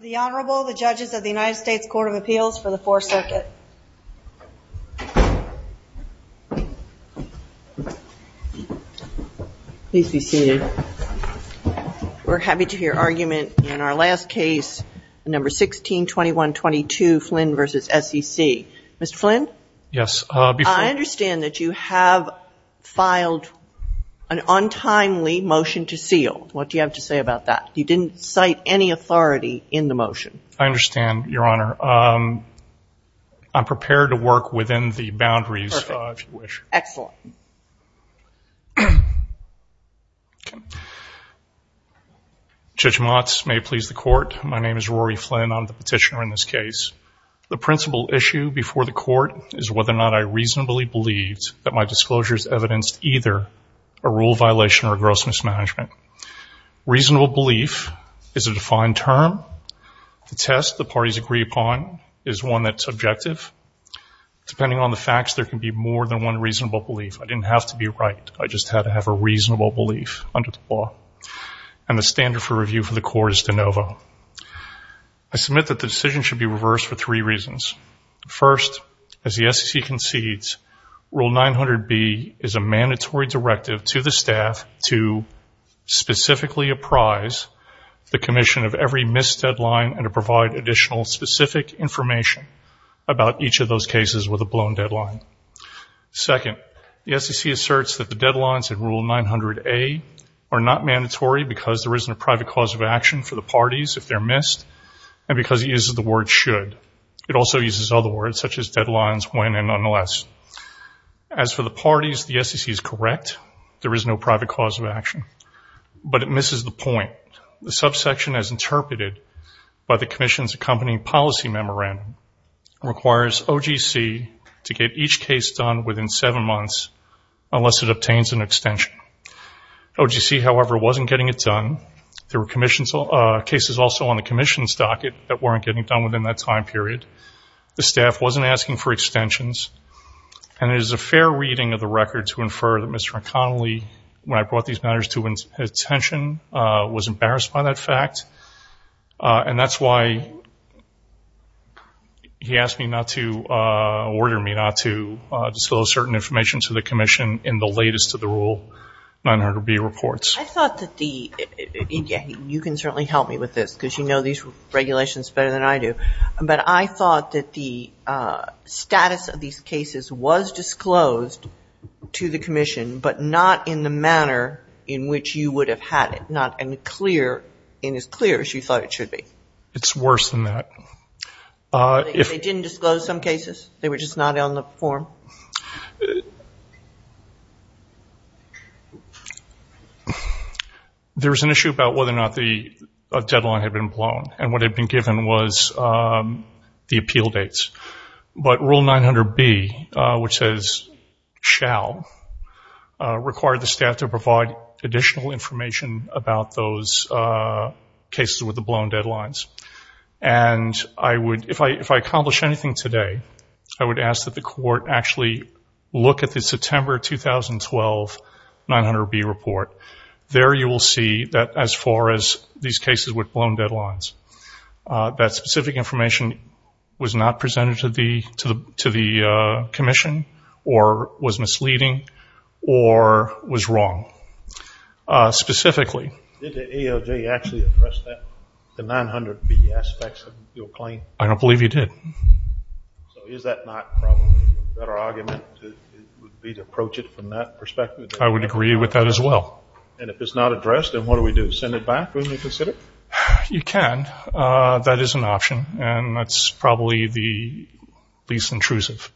The Honorable, the judges of the United States Court of Appeals for the Fourth Circuit. Please be seated. We're happy to hear argument in our last case number 1621-22 Flynn v. SEC. Mr. Flynn? Yes. I understand that you have filed an untimely motion to seal. What do you have to say about that? You didn't cite any authority in the motion. I understand, Your Honor. I'm prepared to work within the boundaries if you wish. Perfect. Excellent. Judge Motz, may it please the Court? My name is Rory Flynn. I'm the petitioner in this case. The principal issue before the Court is whether or not I reasonably believed that my disclosures evidenced either a rule violation or gross mismanagement. Reasonable belief is a defined term. The test the parties agree upon is one that's objective. Depending on the facts, there can be more than one reasonable belief. I didn't have to be right. I just had to have a reasonable belief under the law. And the standard for review for the Court is de novo. I submit that the decision should be reversed for three reasons. First, as the SEC concedes, Rule 900B is a mandatory directive to the staff to specifically apprise the Commission of every missed deadline and to provide additional specific information about each of those cases with a blown deadline. Second, the SEC asserts that the deadlines in Rule 900A are not mandatory because there isn't a private cause of action for the parties if they're missed and because it uses the word should. It also uses other words such as deadlines, when, and nonetheless. As for the parties, the SEC is correct. There is no private cause of action. But it misses the point. The subsection as interpreted by the Commission's accompanying policy memorandum requires OGC to get each case done within seven months unless it obtains an extension. OGC, however, wasn't getting it done. There were cases also on the Commission's docket that weren't getting done within that time period. The staff wasn't asking for extensions. And it is a fair reading of the record to infer that Mr. O'Connelly, when I brought these matters to his attention, was embarrassed by that fact. And that's why he asked me not to, ordered me not to, disclose certain information to the Commission in the latest of the Rule 900B reports. I thought that the, and you can certainly help me with this because you know these regulations better than I do, but I thought that the status of these cases was disclosed to the Commission, but not in the manner in which you would have had it, not in clear, in as clear as you thought it should be. It's worse than that. They didn't disclose some cases? They were just not on the form? There was an issue about whether or not the deadline had been blown. And what had been given was the appeal dates. But Rule 900B, which says shall, required the staff to provide additional information about those cases with the blown deadlines. And I would, if I accomplish anything today, I would ask that the Court actually look at the September 2012 900B report and there you will see that as far as these cases with blown deadlines, that specific information was not presented to the Commission, or was misleading, or was wrong, specifically. Did the ALJ actually address that, the 900B aspects of your claim? I don't believe he did. So is that not probably a better argument to approach it from that perspective? I would agree with that as well. And if it's not addressed, then what do we do? Send it back when you consider it? You can. That is an option. And that's probably the least intrusive.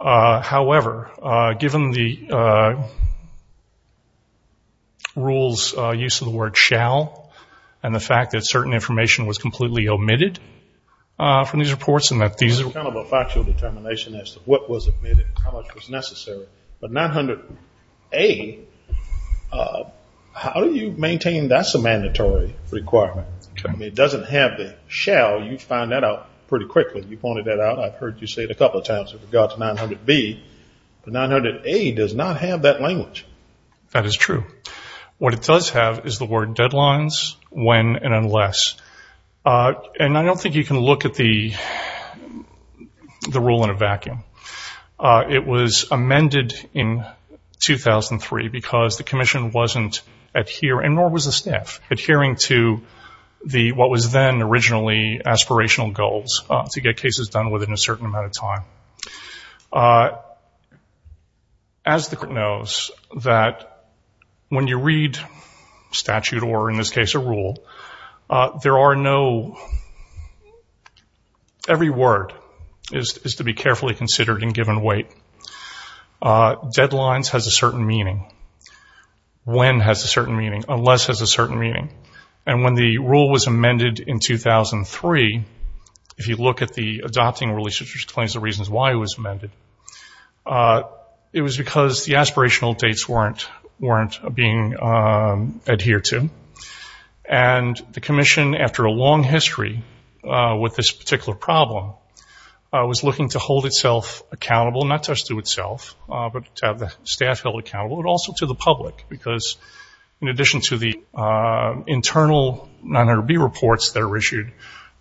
However, given the rules, use of the word shall, and the fact that certain information was completely omitted from these reports and that these are It's kind of a factual determination as to what was omitted and how much was necessary. But 900A, how do you maintain that's a mandatory requirement? It doesn't have the shall. You found that out pretty quickly. You pointed that out. I've heard you say it a couple of times with regard to 900B. But 900A does not have that language. That is true. What it does have is the word deadlines, when, and unless. And I don't think you can look at the rule in a vacuum. It was amended in 2003 because the Commission wasn't adhering, nor was the staff, adhering to what was then originally aspirational goals to get cases done within a certain amount of time. As the Court knows, that when you Every word is to be carefully considered and given weight. Deadlines has a certain meaning. When has a certain meaning. Unless has a certain meaning. And when the rule was amended in 2003, if you look at the adopting release, which explains the reasons why it was amended, it was because the aspirational dates weren't being adhered to. And the Commission, after a long history with this particular problem, was looking to hold itself accountable, not just to itself, but to have the staff held accountable, but also to the public. Because in addition to the internal 900B reports that are issued,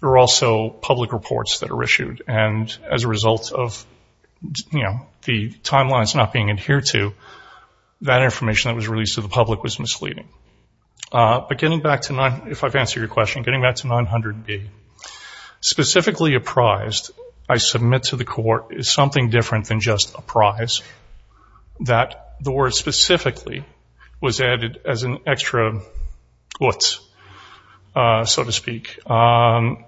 there are also public reports that are issued. And as a result of the timelines not being adhered to, that information that was released to the public was misleading. But getting back to, if I've answered your question, the answer to 900B, specifically apprised, I submit to the Court, is something different than just apprised. That the word specifically was added as an extra what, so to speak. And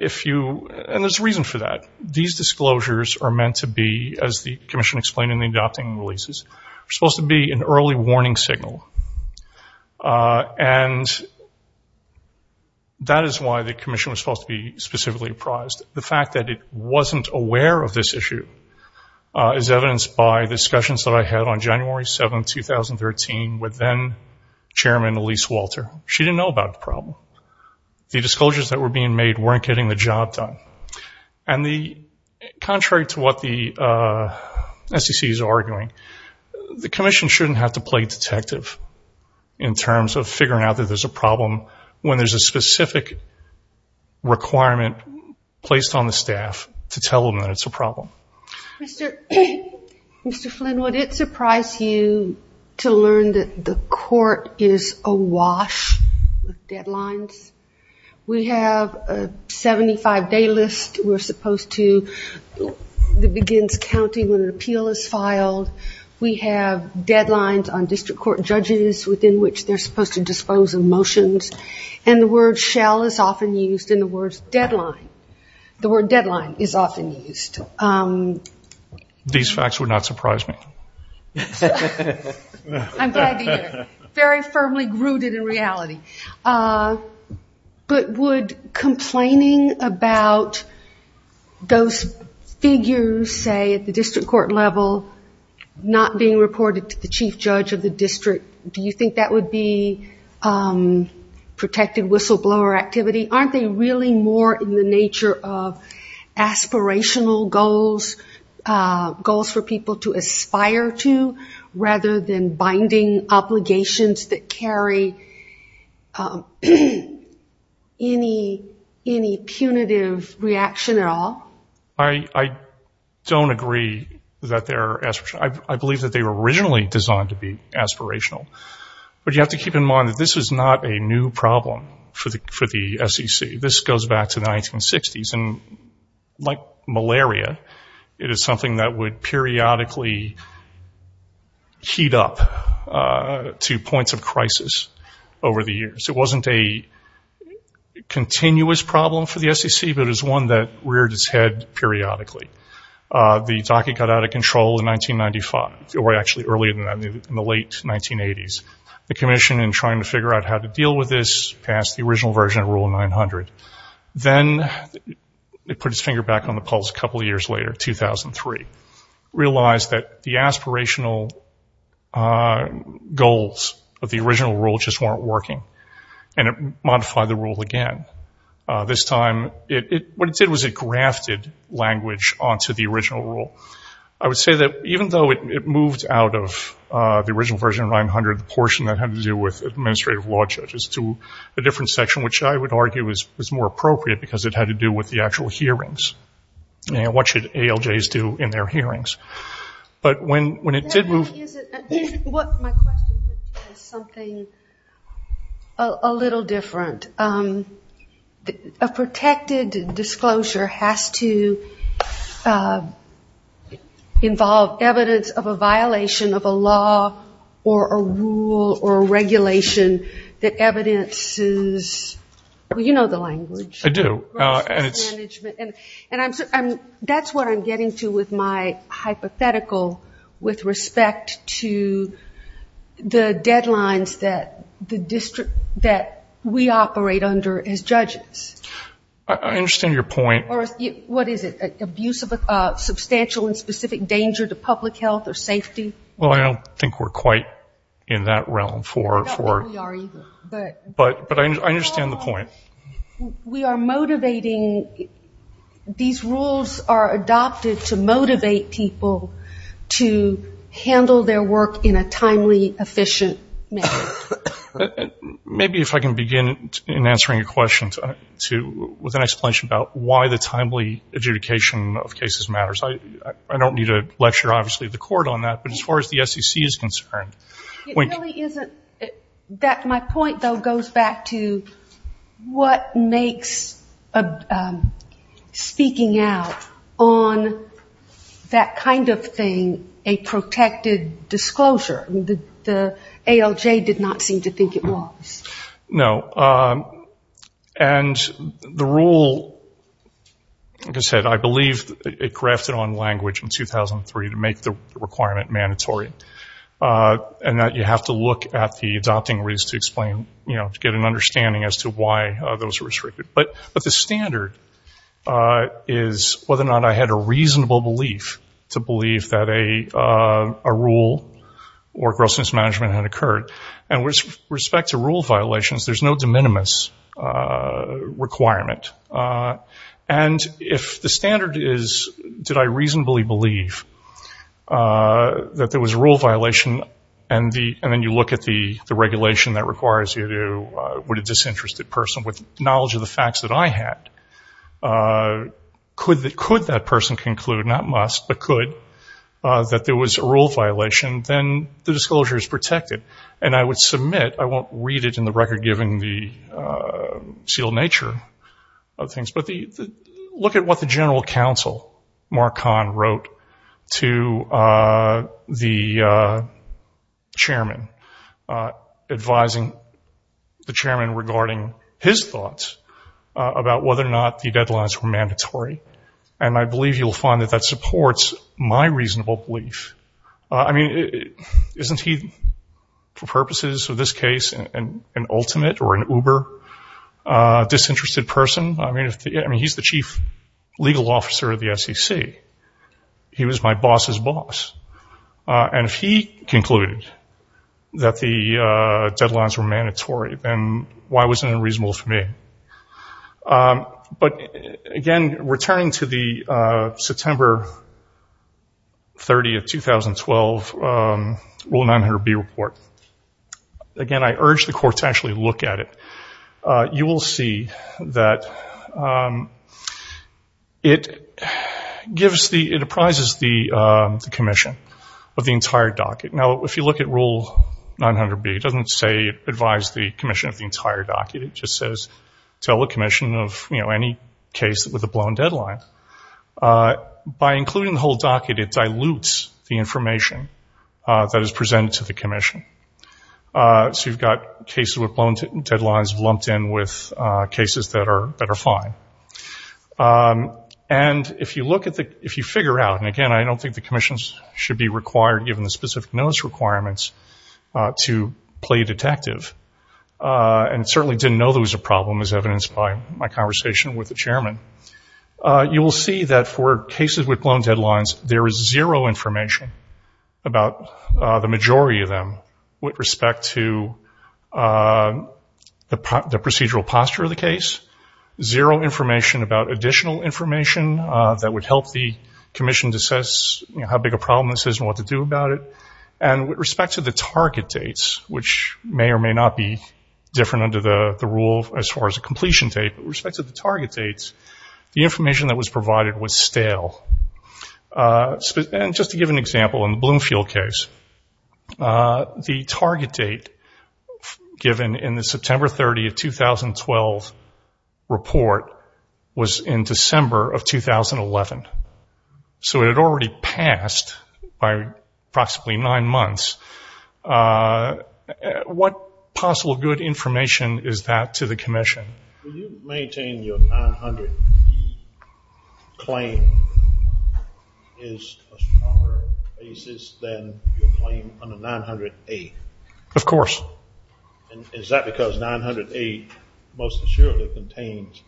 if you, and there's a reason for that. These disclosures are meant to be, as the Commission explained in the adopting releases, supposed to be an early warning signal. And that is why the Commission was supposed to be specifically apprised. The fact that it wasn't aware of this issue is evidenced by discussions that I had on January 7, 2013, with then Chairman Elise Walter. She didn't know about the problem. The disclosures that were being made weren't getting the job done. And contrary to what the SEC is arguing, the Commission shouldn't have to play detective, in terms of figuring out that there's a problem, when there's a specific requirement placed on the staff to tell them that it's a problem. Mr. Flynn, would it surprise you to learn that the Court is awash with deadlines? We have a 75-day list we're supposed to, that begins counting when an appeal is filed. And we have deadlines on district court judges, within which they're supposed to dispose of motions. And the word shall is often used, and the word deadline. The word deadline is often used. These facts would not surprise me. I'm glad to hear it. Very firmly rooted in reality. But would complaining about those figures, say, at the district court level, not being reported to the chief judge of the district, do you think that would be protected whistleblower activity? Aren't they really more in the nature of aspirational goals, goals for people to aspire to, rather than binding obligations that carry any punitive reaction at all? I don't agree that they're aspirational. I believe that they were originally designed to be aspirational. But you have to keep in mind that this is not a new problem for the SEC. This goes back to the 1960s. And like malaria, it is something that would periodically heat up to points of crisis over the years. It wasn't a continuous problem for the SEC, but it was one that reared its head periodically. The docket got out of control in 1995, or actually earlier than that, in the late 1980s. The commission, in trying to figure out how to deal with this, passed the original version of Rule 900. Then it put its finger back on the pulse a couple of years later, 2003. Realized that the aspirational goals of the original rule just weren't working. And it modified the rule again. This time, what it did was it grafted language onto the original rule. I would say that even though it moved out of the original version of 900, the portion that had to do with administrative law judges, to a different section, which I would argue is more appropriate because it had to do with the actual hearings. What should ALJs do in their hearings? But when it did move... My question is something a little different. A protected disclosure has to involve evidence of a violation of a law or a rule or a regulation that evidences, well you know the language. I do. And that's what I'm getting to with my hypothetical with respect to, you know, the deadlines that the district, that we operate under as judges. I understand your point. What is it? Abuse of a substantial and specific danger to public health or safety? Well, I don't think we're quite in that realm for... I don't think we are either. But I understand the point. We are motivating, these rules are adopted to motivate people to handle their work in a timely, efficient manner. Maybe if I can begin in answering your question with an explanation about why the timely adjudication of cases matters. I don't need to lecture, obviously, the court on that, but as far as the SEC is concerned... It really isn't... My point, though, goes back to what makes speaking out on that kind of thing a protected disclosure? The ALJ did not seem to think it was. No. And the rule, like I said, I believe it grafted on language in 2003 to make the requirement mandatory and that you have to look at the adopting rules to explain, you know, to get an understanding as to why those are restricted. But the standard is whether or not I had a reasonable belief to believe that a rule or gross mismanagement had occurred. And with respect to rule violations, there's no de minimis requirement. And if the standard is, did I reasonably believe that there was a rule violation and then you look at the regulation that requires you to, would a disinterested person with knowledge of the facts that I had, could that person conclude, not must, but could, that there was a rule violation, then the disclosure is protected. And I would submit, I won't read it in the record given the seal nature of things, but look at what the general counsel, Mark Kahn, wrote to the chairman, advising the chairman regarding his thoughts about whether or not the deadlines were mandatory. And I believe you'll find that that supports my reasonable belief. I mean, isn't he, for purposes of this case, an ultimate or an uber disinterested person? I mean, he's the chief legal officer of the SEC. He was my boss's boss. And if he concluded that the deadlines were mandatory, then why wasn't it reasonable for me? But again, returning to the September 30th, 2012, Rule 900B report, again, I urge the court to actually look at it. You will see that it gives the, it apprises the commission that there was a rule violation of the entire docket. Now, if you look at Rule 900B, it doesn't say advise the commission of the entire docket. It just says tell the commission of, you know, any case with a blown deadline. By including the whole docket, it dilutes the information that is presented to the commission. So you've got cases with blown deadlines lumped in with cases that are fine. And if you look at the, if you figure out, and again, I don't think the commission should be required, given the specific notice requirements, to play detective, and certainly didn't know there was a problem as evidenced by my conversation with the chairman. You will see that for cases with blown deadlines, there is zero information about the majority of them with respect to the procedural posture of the case. Zero information about additional information that would help the commission to assess how big a problem this is and what to do about it. And with respect to the target dates, which may or may not be different under the rule as far as a completion date, but with respect to the target dates, the information that was provided was stale. And just to give an example, in the Bloomfield case, the target date given in the September 30, 2012 report was in December of 2011. So it had already passed by approximately nine months. What possible good information is that to the commission? Will you maintain your 900B claim is a stronger basis than your claim under 908? Of course. Is that because 908 most assuredly contains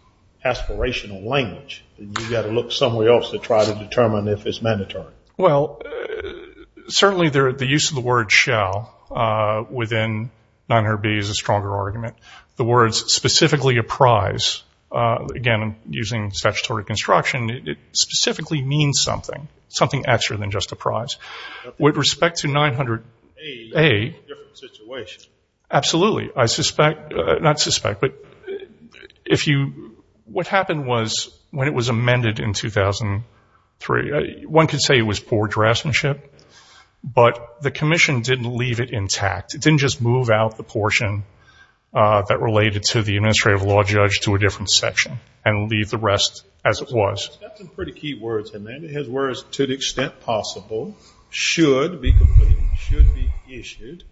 aspirational language, and you've got to look somewhere else to try to determine if it's mandatory? Well, certainly the use of the word shall within 900B is a stronger argument. The words specifically apprise, again, using statutory construction, it specifically means something, something extra than just apprise. With respect to 900A, absolutely. I suspect, not suspect, but if you, what happened was when it was amended in 2003, one could say it was poor draftsmanship, but the commission didn't leave it intact. It didn't just move out the portion that related to the administrative law judge to a different section and leave the rest as it was. It's got some pretty key words in there. It has words, to the extent possible, should be completed, should be issued.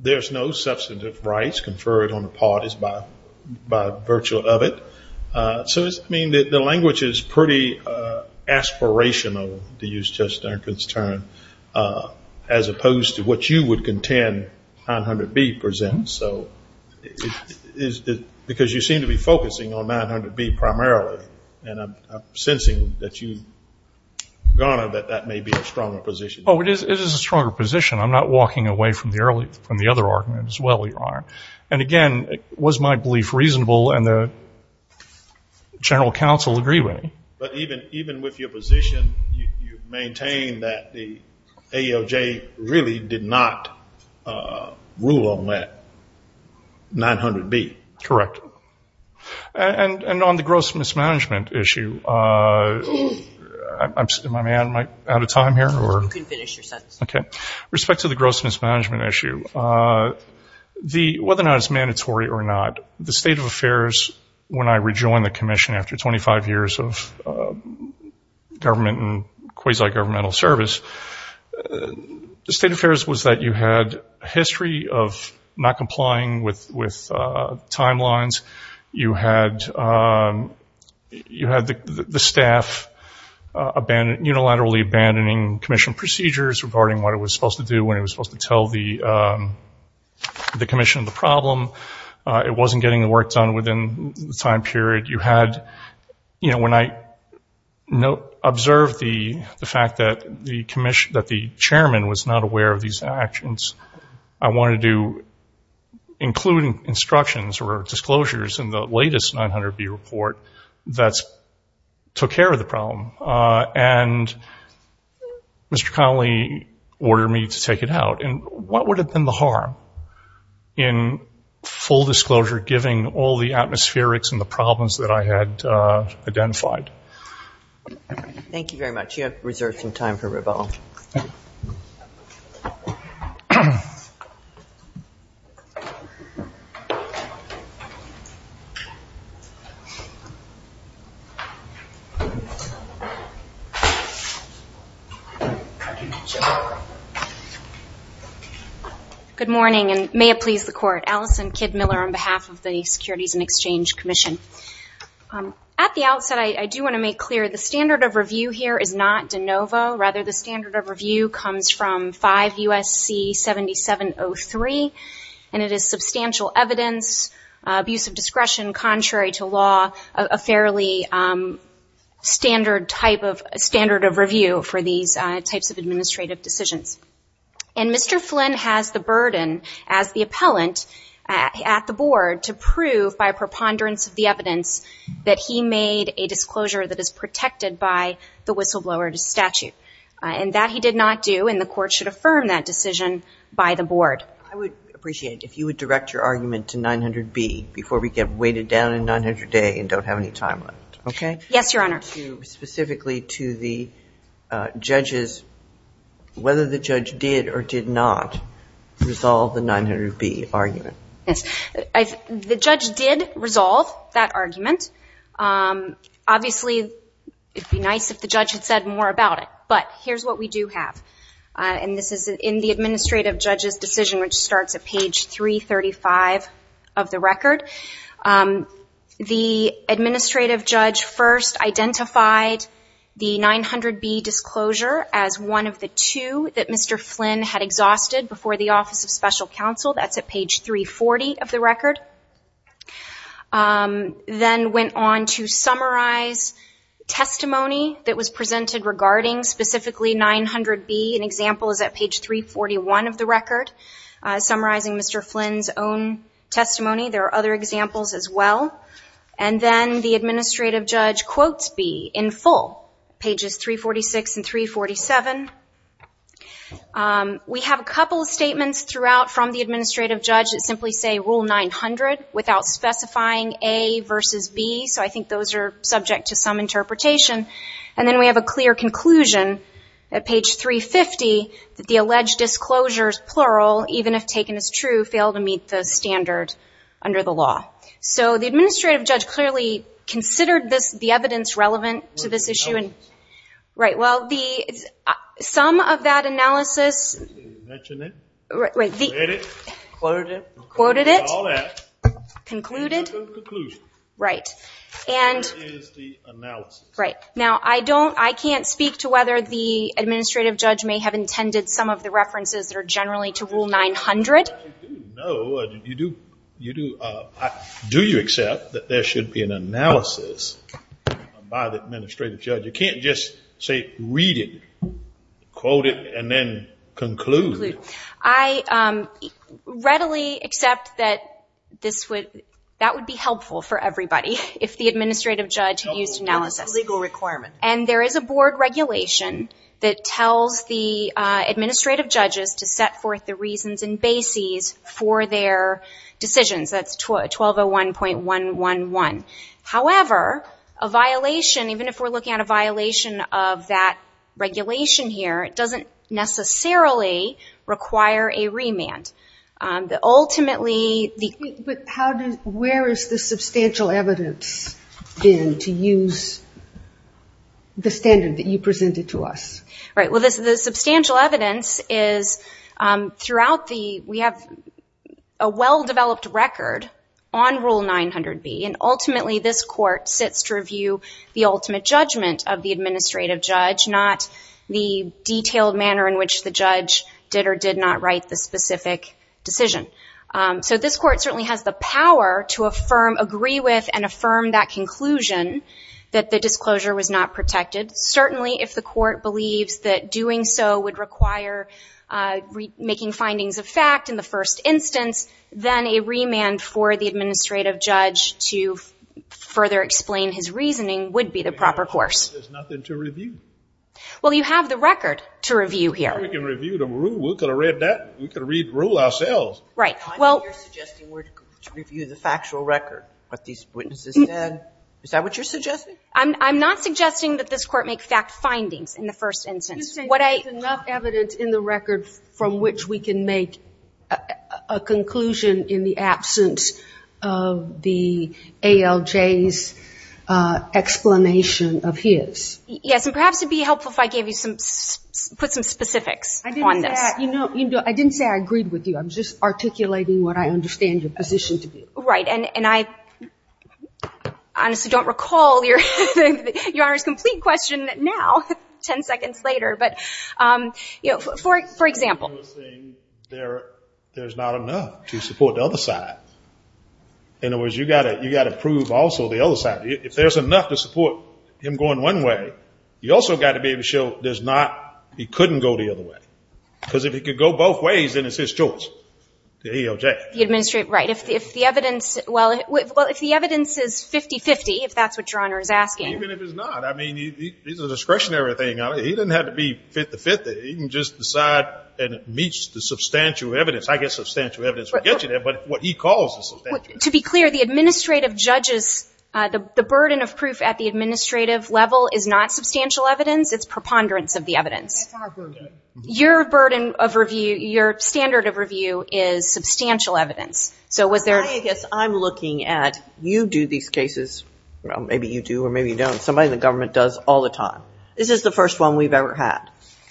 There's no substantive rights conferred on the parties by virtue of it. So, I mean, the language is pretty aspirational, to use Judge Duncan's term, as opposed to what you would contend 900B presents. Because you seem to be focusing on 900B primarily. And I'm sensing that you, Your Honor, that that may be a stronger position. Oh, it is a stronger position. I'm not walking away from the other argument as well, Your Honor. And again, was my belief reasonable and the general counsel agree with me? But even with your position, you maintain that the ALJ really did not rule on that 900B. Correct. And on the gross mismanagement issue, am I out of time here? You can finish your sentence. Okay. Respect to the gross mismanagement issue, whether or not it's mandatory or not, the state of affairs, when I rejoined the commission after 25 years of government and quasi-governmental service, the state of affairs was that you had a history of not complying with timelines. You had the staff unilaterally abandoning commission procedures regarding what it was supposed to do, when it was supposed to tell the commission the problem. It wasn't getting the work done within the time period. You had, you know, when I observed the fact that the chairman was not aware of these actions, I wanted to include instructions or disclosures in the latest 900B report that took care of the problem. And Mr. Connolly ordered me to take it out. And what would have been the harm in full disclosure giving all the atmospherics and the problems that I had identified? Thank you very much. You have reserved some time for rebuttal. Good morning, and may it please the court. Allison Kidd-Miller on behalf of the Securities and Exchange Commission. At the outset, I do want to make clear the standard of review here is not de novo. Rather, the standard of review comes from 5 U.S.C. 7703, and it is substantial evidence, abuse of discretion contrary to law, a fairly standard type of review for these types of administrative decisions. And Mr. Flynn has the burden as the appellant at the board to prove by preponderance of the evidence that he made a disclosure that is protected by the whistleblower statute. And that he did not do, and the court should affirm that decision by the board. I would appreciate it if you would direct your argument to 900B before we get weighted down in 900A and don't have any time left, okay? Yes, Your Honor. I'm referring specifically to the judge's, whether the judge did or did not resolve the 900B argument. Yes. The judge did resolve that argument. Obviously, it would be nice if the judge had said more about it, but here's what we do have. And this is in the administrative judge's decision, which starts at page 335 of the record. The administrative judge first identified the 900B disclosure as one of the two that Mr. Flynn had exhausted before the Office of Special Counsel. That's at page 340 of the record. Then went on to summarize testimony that was presented regarding specifically 900B. An example is at page 341 of the record, summarizing Mr. Flynn's own testimony. There are other examples as well. And then the administrative judge quotes B in full, pages 346 and 347. We have a couple of statements throughout from the administrative judge that simply say Rule 900 without specifying A versus B, so I think those are subject to some interpretation. And then we have a clear conclusion at page 350 that the alleged disclosures, plural, even if taken as true, fail to meet the standard under the law. So the administrative judge clearly considered the evidence relevant to this issue. Right. Well, some of that analysis. Mentioned it. Read it. Quoted it. Quoted it. All that. Concluded. Conclusion. Right. And there is the analysis. Right. Now, I can't speak to whether the administrative judge may have intended some of the references that are generally to Rule 900. No, you do. Do you accept that there should be an analysis by the administrative judge? You can't just say read it, quote it, and then conclude. I readily accept that that would be helpful for everybody if the administrative judge used analysis. It's a legal requirement. And there is a board regulation that tells the administrative judges to set forth the reasons and bases for their decisions. That's 1201.111. However, a violation, even if we're looking at a violation of that regulation here, doesn't necessarily require a remand. But where is the substantial evidence then to use the standard that you presented to us? Right. Well, the substantial evidence is throughout the we have a well-developed record on Rule 900B, and ultimately this court sits to review the ultimate judgment of the administrative judge, not the detailed manner in which the judge did or did not write the specific decision. So this court certainly has the power to affirm, agree with, and affirm that conclusion that the disclosure was not protected. Certainly if the court believes that doing so would require making findings of fact in the first instance, then a remand for the administrative judge to further explain his reasoning would be the proper course. There's nothing to review. Well, you have the record to review here. We can review the rule. We could have read that. We could read the rule ourselves. Right. I know you're suggesting we're to review the factual record, what these witnesses said. Is that what you're suggesting? I'm not suggesting that this court make fact findings in the first instance. You're saying there's enough evidence in the record from which we can make a conclusion in the absence of the ALJ's explanation of his. Yes, and perhaps it would be helpful if I put some specifics on this. I didn't say I agreed with you. I'm just articulating what I understand your position to be. Right. And I honestly don't recall Your Honor's complete question now, 10 seconds later. But, you know, for example. I was saying there's not enough to support the other side. In other words, you've got to prove also the other side. If there's enough to support him going one way, you've also got to be able to show there's not, he couldn't go the other way. Because if he could go both ways, then it's his choice, the ALJ. The administrative, right. If the evidence, well, if the evidence is 50-50, if that's what Your Honor is asking. Even if it's not, I mean, he's a discretionary thing. He doesn't have to be 50-50. He can just decide and it meets the substantial evidence. I guess substantial evidence will get you there. But what he calls the substantial evidence. To be clear, the administrative judges, the burden of proof at the administrative level is not substantial evidence. It's preponderance of the evidence. That's our burden. Your burden of review, your standard of review is substantial evidence. So was there. I guess I'm looking at you do these cases. Maybe you do or maybe you don't. Somebody in the government does all the time. This is the first one we've ever had.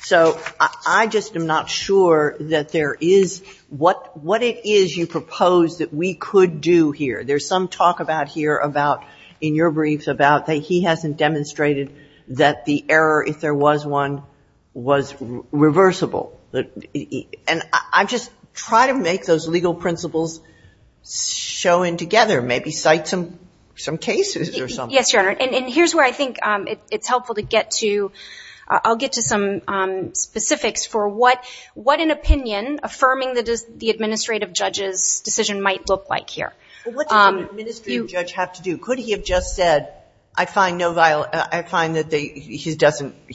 So I just am not sure that there is what it is you propose that we could do here. There's some talk about here about in your briefs about that he hasn't demonstrated that the error, if there was one, was reversible. And I just try to make those legal principles show in together. Maybe cite some cases or something. Yes, Your Honor. And here's where I think it's helpful to get to. I'll get to some specifics for what an opinion affirming the administrative judge's decision might look like here. What does an administrative judge have to do? Could he have just said, I find that he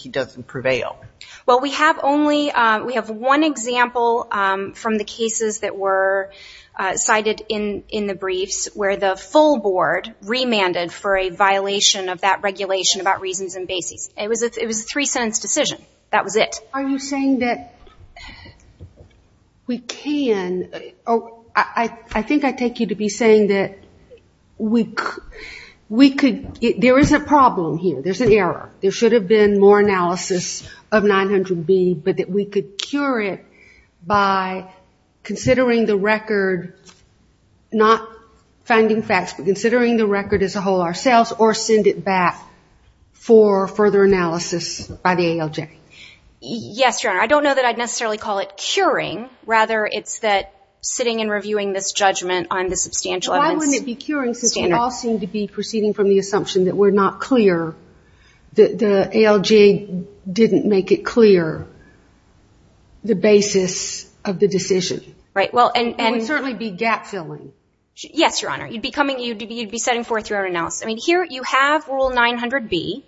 doesn't prevail? Well, we have one example from the cases that were cited in the briefs where the full board remanded for a violation of that regulation about reasons and basis. It was a three-sentence decision. That was it. Are you saying that we can? I think I take you to be saying that there is a problem here, there's an error. There should have been more analysis of 900B, but that we could cure it by considering the record, not finding facts, but considering the record as a whole ourselves or send it back for further analysis by the ALJ. Yes, Your Honor. I don't know that I'd necessarily call it curing. Rather, it's that sitting and reviewing this judgment on the substantial evidence. Why wouldn't it be curing since we all seem to be proceeding from the assumption that we're not clear, that the ALJ didn't make it clear the basis of the decision? It would certainly be gap-filling. Yes, Your Honor. You'd be setting forth your own analysis. I mean, here you have Rule 900B.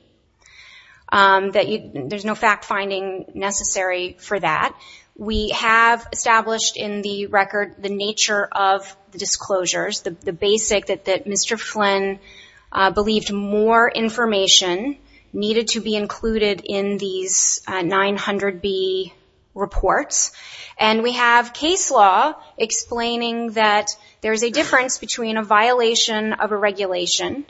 There's no fact-finding necessary for that. We have established in the record the nature of the disclosures, the basic that Mr. Flynn believed more information needed to be included in these 900B reports, and we have case law explaining that there's a difference between a violation of a regulation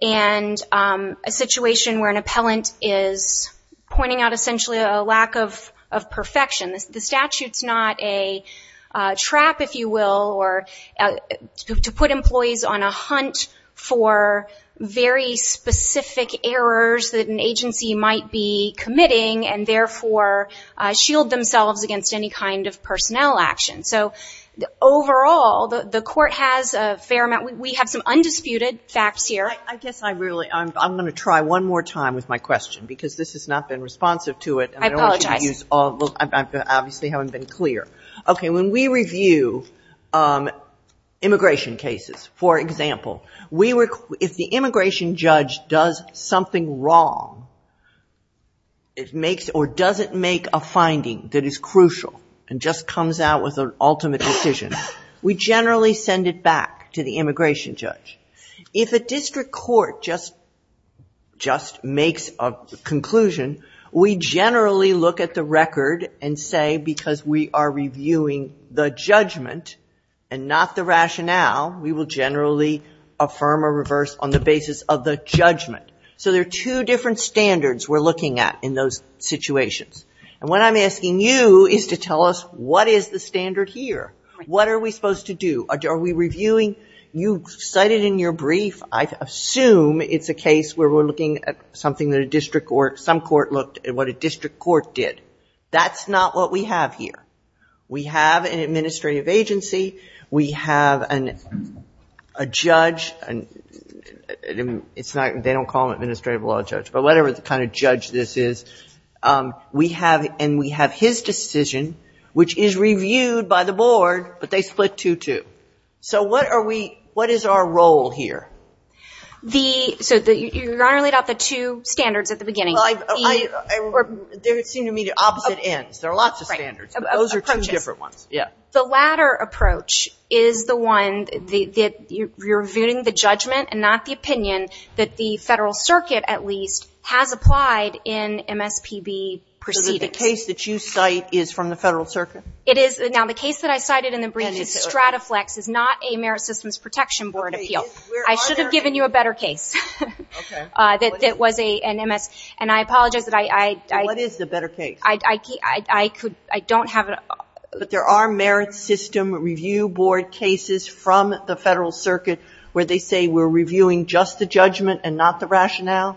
and a situation where an appellant is pointing out essentially a lack of perfection. The statute's not a trap, if you will, to put employees on a hunt for very specific errors that an agency might be committing and therefore shield themselves against any kind of personnel action. So overall, the Court has a fair amount. We have some undisputed facts here. I guess I'm going to try one more time with my question because this has not been responsive to it. I apologize. I obviously haven't been clear. Okay, when we review immigration cases, for example, if the immigration judge does something wrong or doesn't make a finding that is crucial and just comes out with an ultimate decision, we generally send it back to the immigration judge. If a district court just makes a conclusion, we generally look at the record and say because we are reviewing the judgment and not the rationale, we will generally affirm or reverse on the basis of the judgment. So there are two different standards we're looking at in those situations. And what I'm asking you is to tell us what is the standard here. What are we supposed to do? Are we reviewing? You cited in your brief, I assume it's a case where we're looking at something that a district court, some court looked at what a district court did. That's not what we have here. We have an administrative agency. We have a judge. They don't call them administrative law judge, but whatever kind of judge this is. And we have his decision, which is reviewed by the board, but they split two-two. So what is our role here? So you only got the two standards at the beginning. They seem to me the opposite ends. There are lots of standards, but those are two different ones. The latter approach is the one that you're reviewing the judgment and not the opinion that the federal circuit, at least, has applied in MSPB proceedings. So the case that you cite is from the federal circuit? It is. Now, the case that I cited in the brief is Strataflex. It's not a Merit Systems Protection Board appeal. I should have given you a better case that was an MS. And I apologize. What is the better case? I don't have it. But there are Merit System Review Board cases from the federal circuit where they say we're reviewing just the judgment and not the rationale?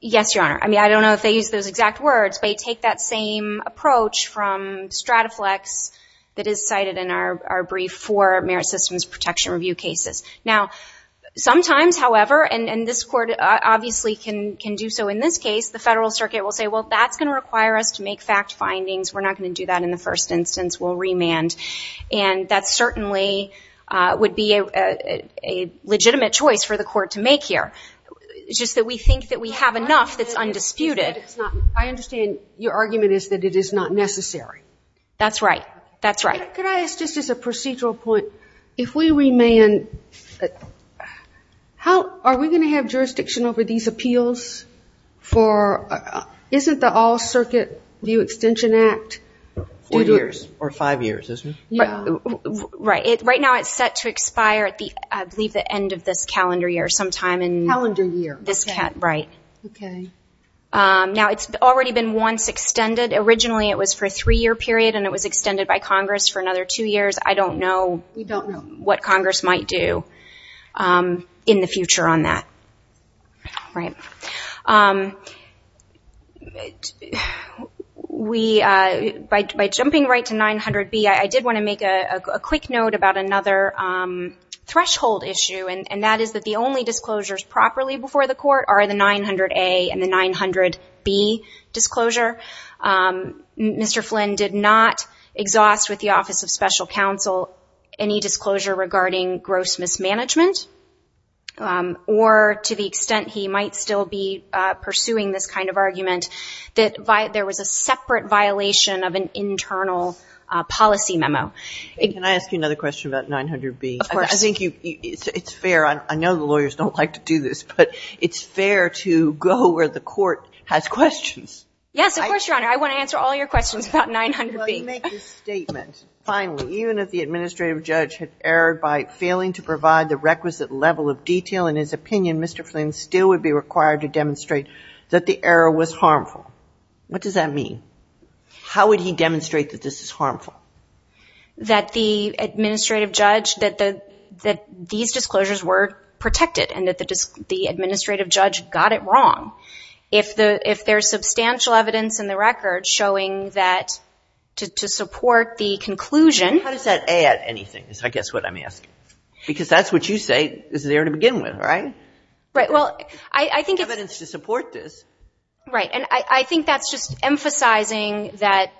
Yes, Your Honor. I mean, I don't know if they use those exact words, but they take that same approach from Strataflex that is cited in our brief for Merit Systems Protection Review cases. Now, sometimes, however, and this court obviously can do so in this case, the federal circuit will say, well, that's going to require us to make fact findings. We're not going to do that in the first instance. We'll remand. And that certainly would be a legitimate choice for the court to make here. It's just that we think that we have enough that's undisputed. I understand your argument is that it is not necessary. That's right. That's right. Could I ask just as a procedural point, if we remand, are we going to have jurisdiction over these appeals? Isn't the All-Circuit View Extension Act due to it? Right. Right now it's set to expire at, I believe, the end of this calendar year sometime. Calendar year. Right. Okay. Now, it's already been once extended. Originally it was for a three-year period, and it was extended by Congress for another two years. I don't know what Congress might do in the future on that. Right. By jumping right to 900B, I did want to make a quick note about another threshold issue, and that is that the only disclosures properly before the court are the 900A and the 900B disclosure. Mr. Flynn did not exhaust with the Office of Special Counsel any disclosure regarding gross mismanagement, or to the extent he might still be pursuing this kind of argument, that there was a separate violation of an internal policy memo. Can I ask you another question about 900B? Of course. I think it's fair. I know the lawyers don't like to do this, but it's fair to go where the court has questions. Yes, of course, Your Honor. I want to answer all your questions about 900B. Well, you make this statement, finally, even if the administrative judge had erred by failing to provide the requisite level of detail, in his opinion, Mr. Flynn still would be required to demonstrate that the error was harmful. What does that mean? How would he demonstrate that this is harmful? That the administrative judge, that these disclosures were protected and that the administrative judge got it wrong. If there's substantial evidence in the record showing that to support the conclusion. How does that add anything is, I guess, what I'm asking? Because that's what you say is there to begin with, right? Right. Well, I think. Evidence to support this. Right. And I think that's just emphasizing that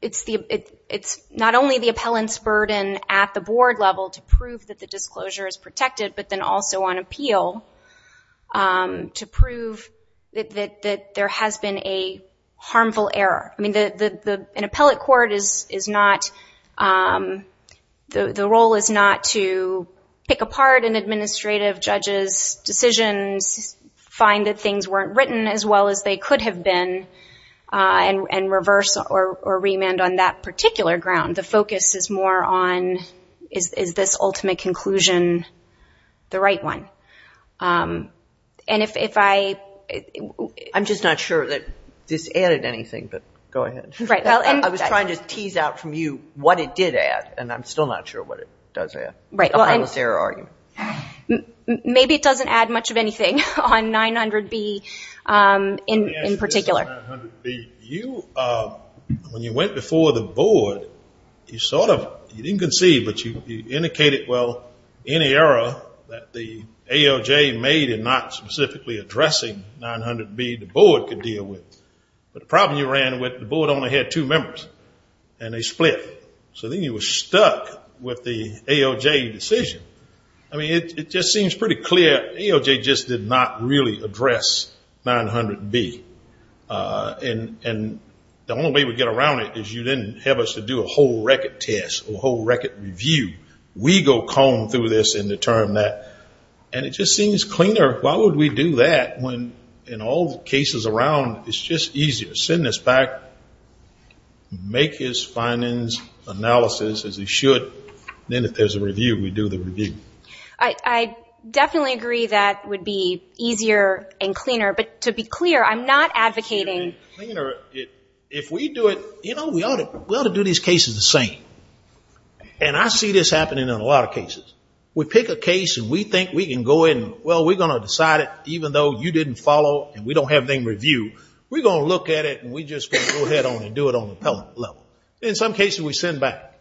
it's not only the appellant's burden at the board level to prove that the disclosure is protected, but then also on appeal to prove that there has been a harmful error. I mean, an appellate court is not, the role is not to pick apart an administrative judge's decisions, find that things weren't written as well as they could have been, and reverse or remand on that particular ground. The focus is more on is this ultimate conclusion the right one? And if I... I'm just not sure that this added anything, but go ahead. I was trying to tease out from you what it did add, and I'm still not sure what it does add. Right. A harmless error argument. Maybe it doesn't add much of anything on 900B in particular. You, when you went before the board, you sort of, you didn't concede, but you indicated, well, any error that the ALJ made in not specifically addressing 900B, the board could deal with. But the problem you ran with, the board only had two members, and they split. So then you were stuck with the ALJ decision. I mean, it just seems pretty clear. ALJ just did not really address 900B. And the only way we get around it is you didn't have us to do a whole record test or a whole record review. We go comb through this and determine that. And it just seems cleaner. Why would we do that when, in all the cases around, it's just easier to send this back, make his findings, analysis, as he should. Then if there's a review, we do the review. I definitely agree that it would be easier and cleaner. But to be clear, I'm not advocating. If we do it, you know, we ought to do these cases the same. And I see this happening in a lot of cases. We pick a case and we think we can go in and, well, we're going to decide it, even though you didn't follow and we don't have any review. We're going to look at it and we're just going to go ahead and do it on the appellate level. In some cases, we send back.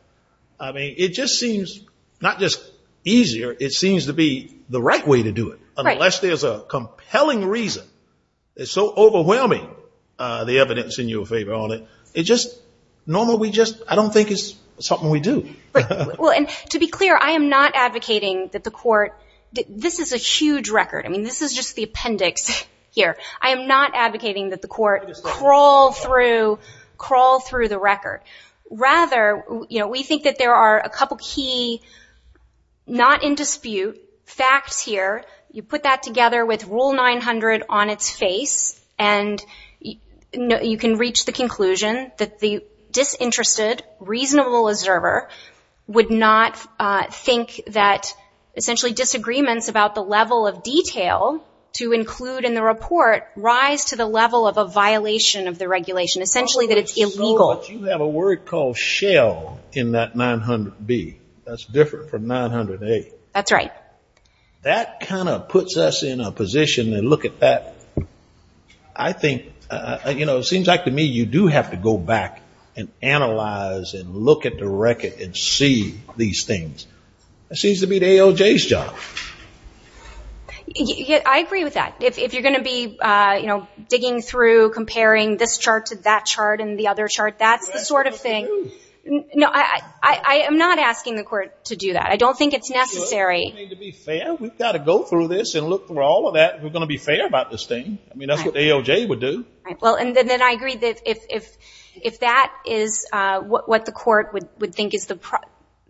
I mean, it just seems not just easier, it seems to be the right way to do it. Right. Unless there's a compelling reason that's so overwhelming, the evidence in your favor on it. It just, normally we just, I don't think it's something we do. Well, and to be clear, I am not advocating that the court, this is a huge record. I mean, this is just the appendix here. I am not advocating that the court crawl through the record. Rather, you know, we think that there are a couple key not in dispute facts here. You put that together with Rule 900 on its face and you can reach the conclusion that the disinterested, reasonable observer would not think that essentially disagreements about the level of detail to include in the report rise to the level of a violation of the regulation, essentially that it's illegal. But you have a word called shell in that 900B. That's different from 900A. That's right. That kind of puts us in a position to look at that. I think, you know, it seems like to me you do have to go back and analyze and look at the record and see these things. It seems to be the AOJ's job. I agree with that. If you're going to be, you know, digging through, comparing this chart to that chart and the other chart, that's the sort of thing. No, I am not asking the court to do that. I don't think it's necessary. To be fair, we've got to go through this and look through all of that. We're going to be fair about this thing. I mean, that's what the AOJ would do. Well, and then I agree that if that is what the court would think is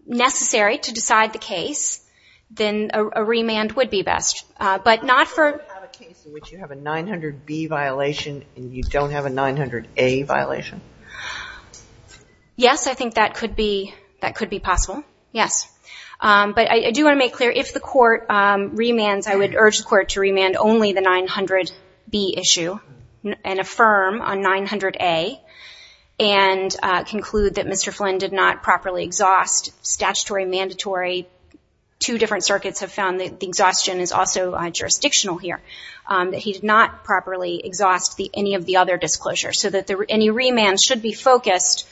necessary to decide the case, then a remand would be best. Would you have a case in which you have a 900B violation and you don't have a 900A violation? Yes, I think that could be possible. Yes. But I do want to make clear, if the court remands, I would urge the court to remand only the 900B issue and affirm on 900A and conclude that Mr. Flynn did not properly exhaust statutory, mandatory. Two different circuits have found that the exhaustion is also jurisdictional here, that he did not properly exhaust any of the other disclosures, so that any remand should be focused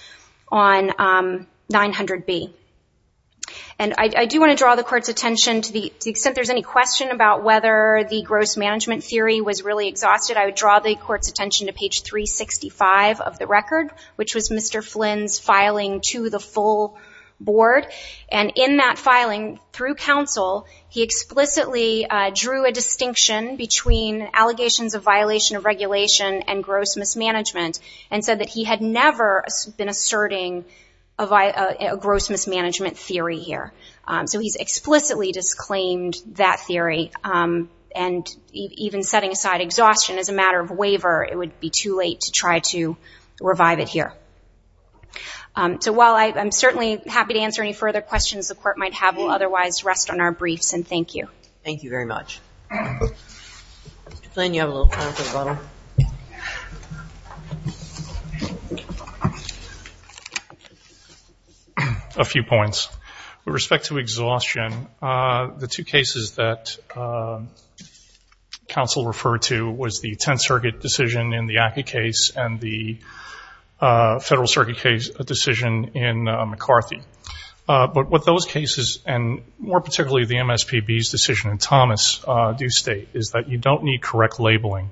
on 900B. And I do want to draw the court's attention, to the extent there's any question about whether the gross management theory was really exhausted, I would draw the court's attention to page 365 of the record, which was Mr. Flynn's filing to the full board. And in that filing, through counsel, he explicitly drew a distinction between allegations of violation of regulation and gross mismanagement, and said that he had never been asserting a gross mismanagement theory here. So he's explicitly disclaimed that theory, and even setting aside exhaustion as a matter of waiver, it would be too late to try to revive it here. So while I'm certainly happy to answer any further questions the court might have, we'll otherwise rest on our briefs, and thank you. Thank you very much. Mr. Flynn, you have a little time for a bottle? A few points. With respect to exhaustion, the two cases that counsel referred to, was the Tenth Circuit decision in the ACCA case, and the Federal Circuit decision in McCarthy. But what those cases, and more particularly the MSPB's decision in Thomas, do state, is that you don't need correct labeling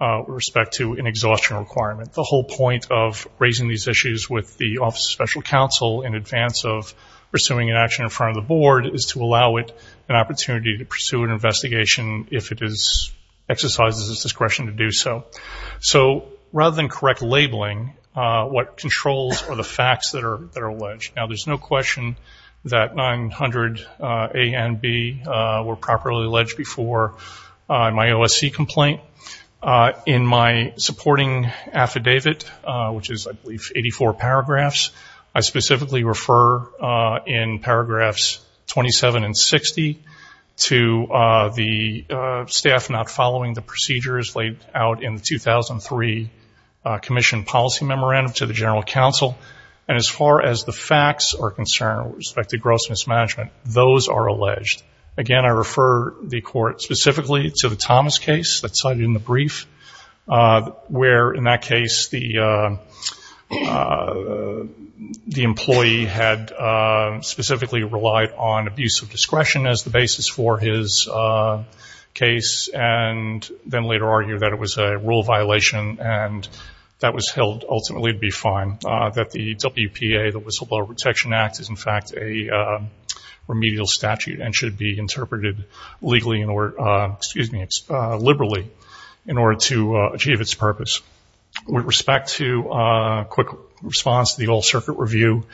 with respect to an exhaustion requirement. The whole point of raising these issues with the Office of Special Counsel, in advance of pursuing an action in front of the board, is to allow it an opportunity to pursue an investigation if it exercises its discretion to do so. So rather than correct labeling, what controls are the facts that are alleged? Now there's no question that 900 A and B were properly alleged before my OSC complaint. In my supporting affidavit, which is I believe 84 paragraphs, I specifically refer in paragraphs 27 and 60 to the staff not following the procedures laid out in the 2003 Commission Policy Memorandum to the General Counsel. And as far as the facts are concerned with respect to gross mismanagement, those are alleged. Again, I refer the Court specifically to the Thomas case that's cited in the brief, where in that case the employee had specifically relied on abuse of discretion as the basis for his case, and then later argued that it was a rule violation and that was held ultimately to be fine, that the WPA, the Whistleblower Protection Act, is in fact a remedial statute and should be interpreted legally in order, excuse me, liberally in order to achieve its purpose. With respect to a quick response to the Old Circuit review,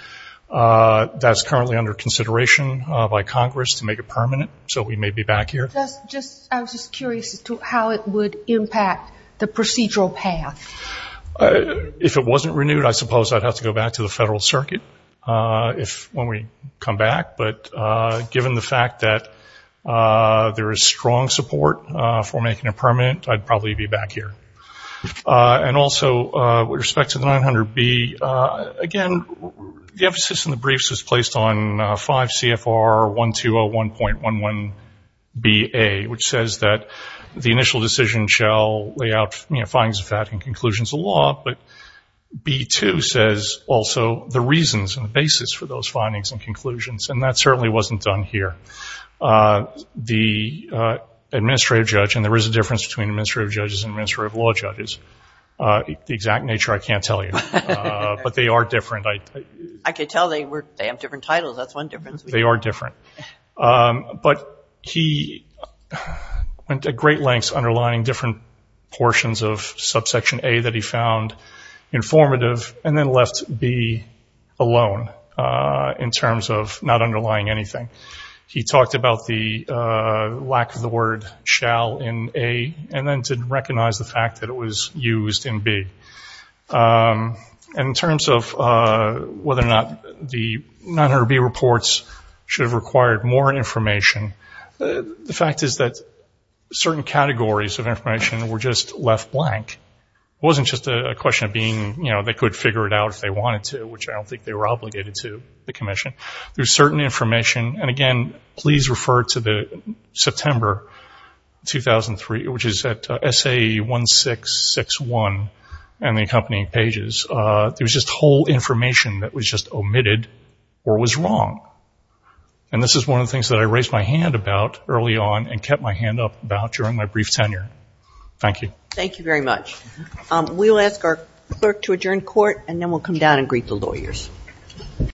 that's currently under consideration by Congress to make it permanent, so we may be back here. I was just curious as to how it would impact the procedural path. If it wasn't renewed, I suppose I'd have to go back to the Federal Circuit when we come back. But given the fact that there is strong support for making it permanent, I'd probably be back here. And also with respect to the 900B, again, the emphasis in the briefs is placed on 5 CFR 1201.11BA, which says that the initial decision shall lay out findings of that and conclusions of law, but B2 says also the reasons and the basis for those findings and conclusions, and that certainly wasn't done here. The administrative judge, and there is a difference between administrative judges and administrative law judges, the exact nature I can't tell you, but they are different. I could tell they have different titles. That's one difference. They are different. But he went to great lengths underlining different portions of subsection A that he found informative and then left B alone in terms of not underlying anything. He talked about the lack of the word shall in A and then didn't recognize the fact that it was used in B. In terms of whether or not the 900B reports should have required more information, the fact is that certain categories of information were just left blank. It wasn't just a question of being, you know, they could figure it out if they wanted to, which I don't think they were obligated to, the commission. There's certain information, and again, please refer to the September 2003, which is at SAE 1661 and the accompanying pages. There was just whole information that was just omitted or was wrong. And this is one of the things that I raised my hand about early on and kept my hand up about during my brief tenure. Thank you. Thank you very much. We'll ask our clerk to adjourn court, and then we'll come down and greet the lawyers.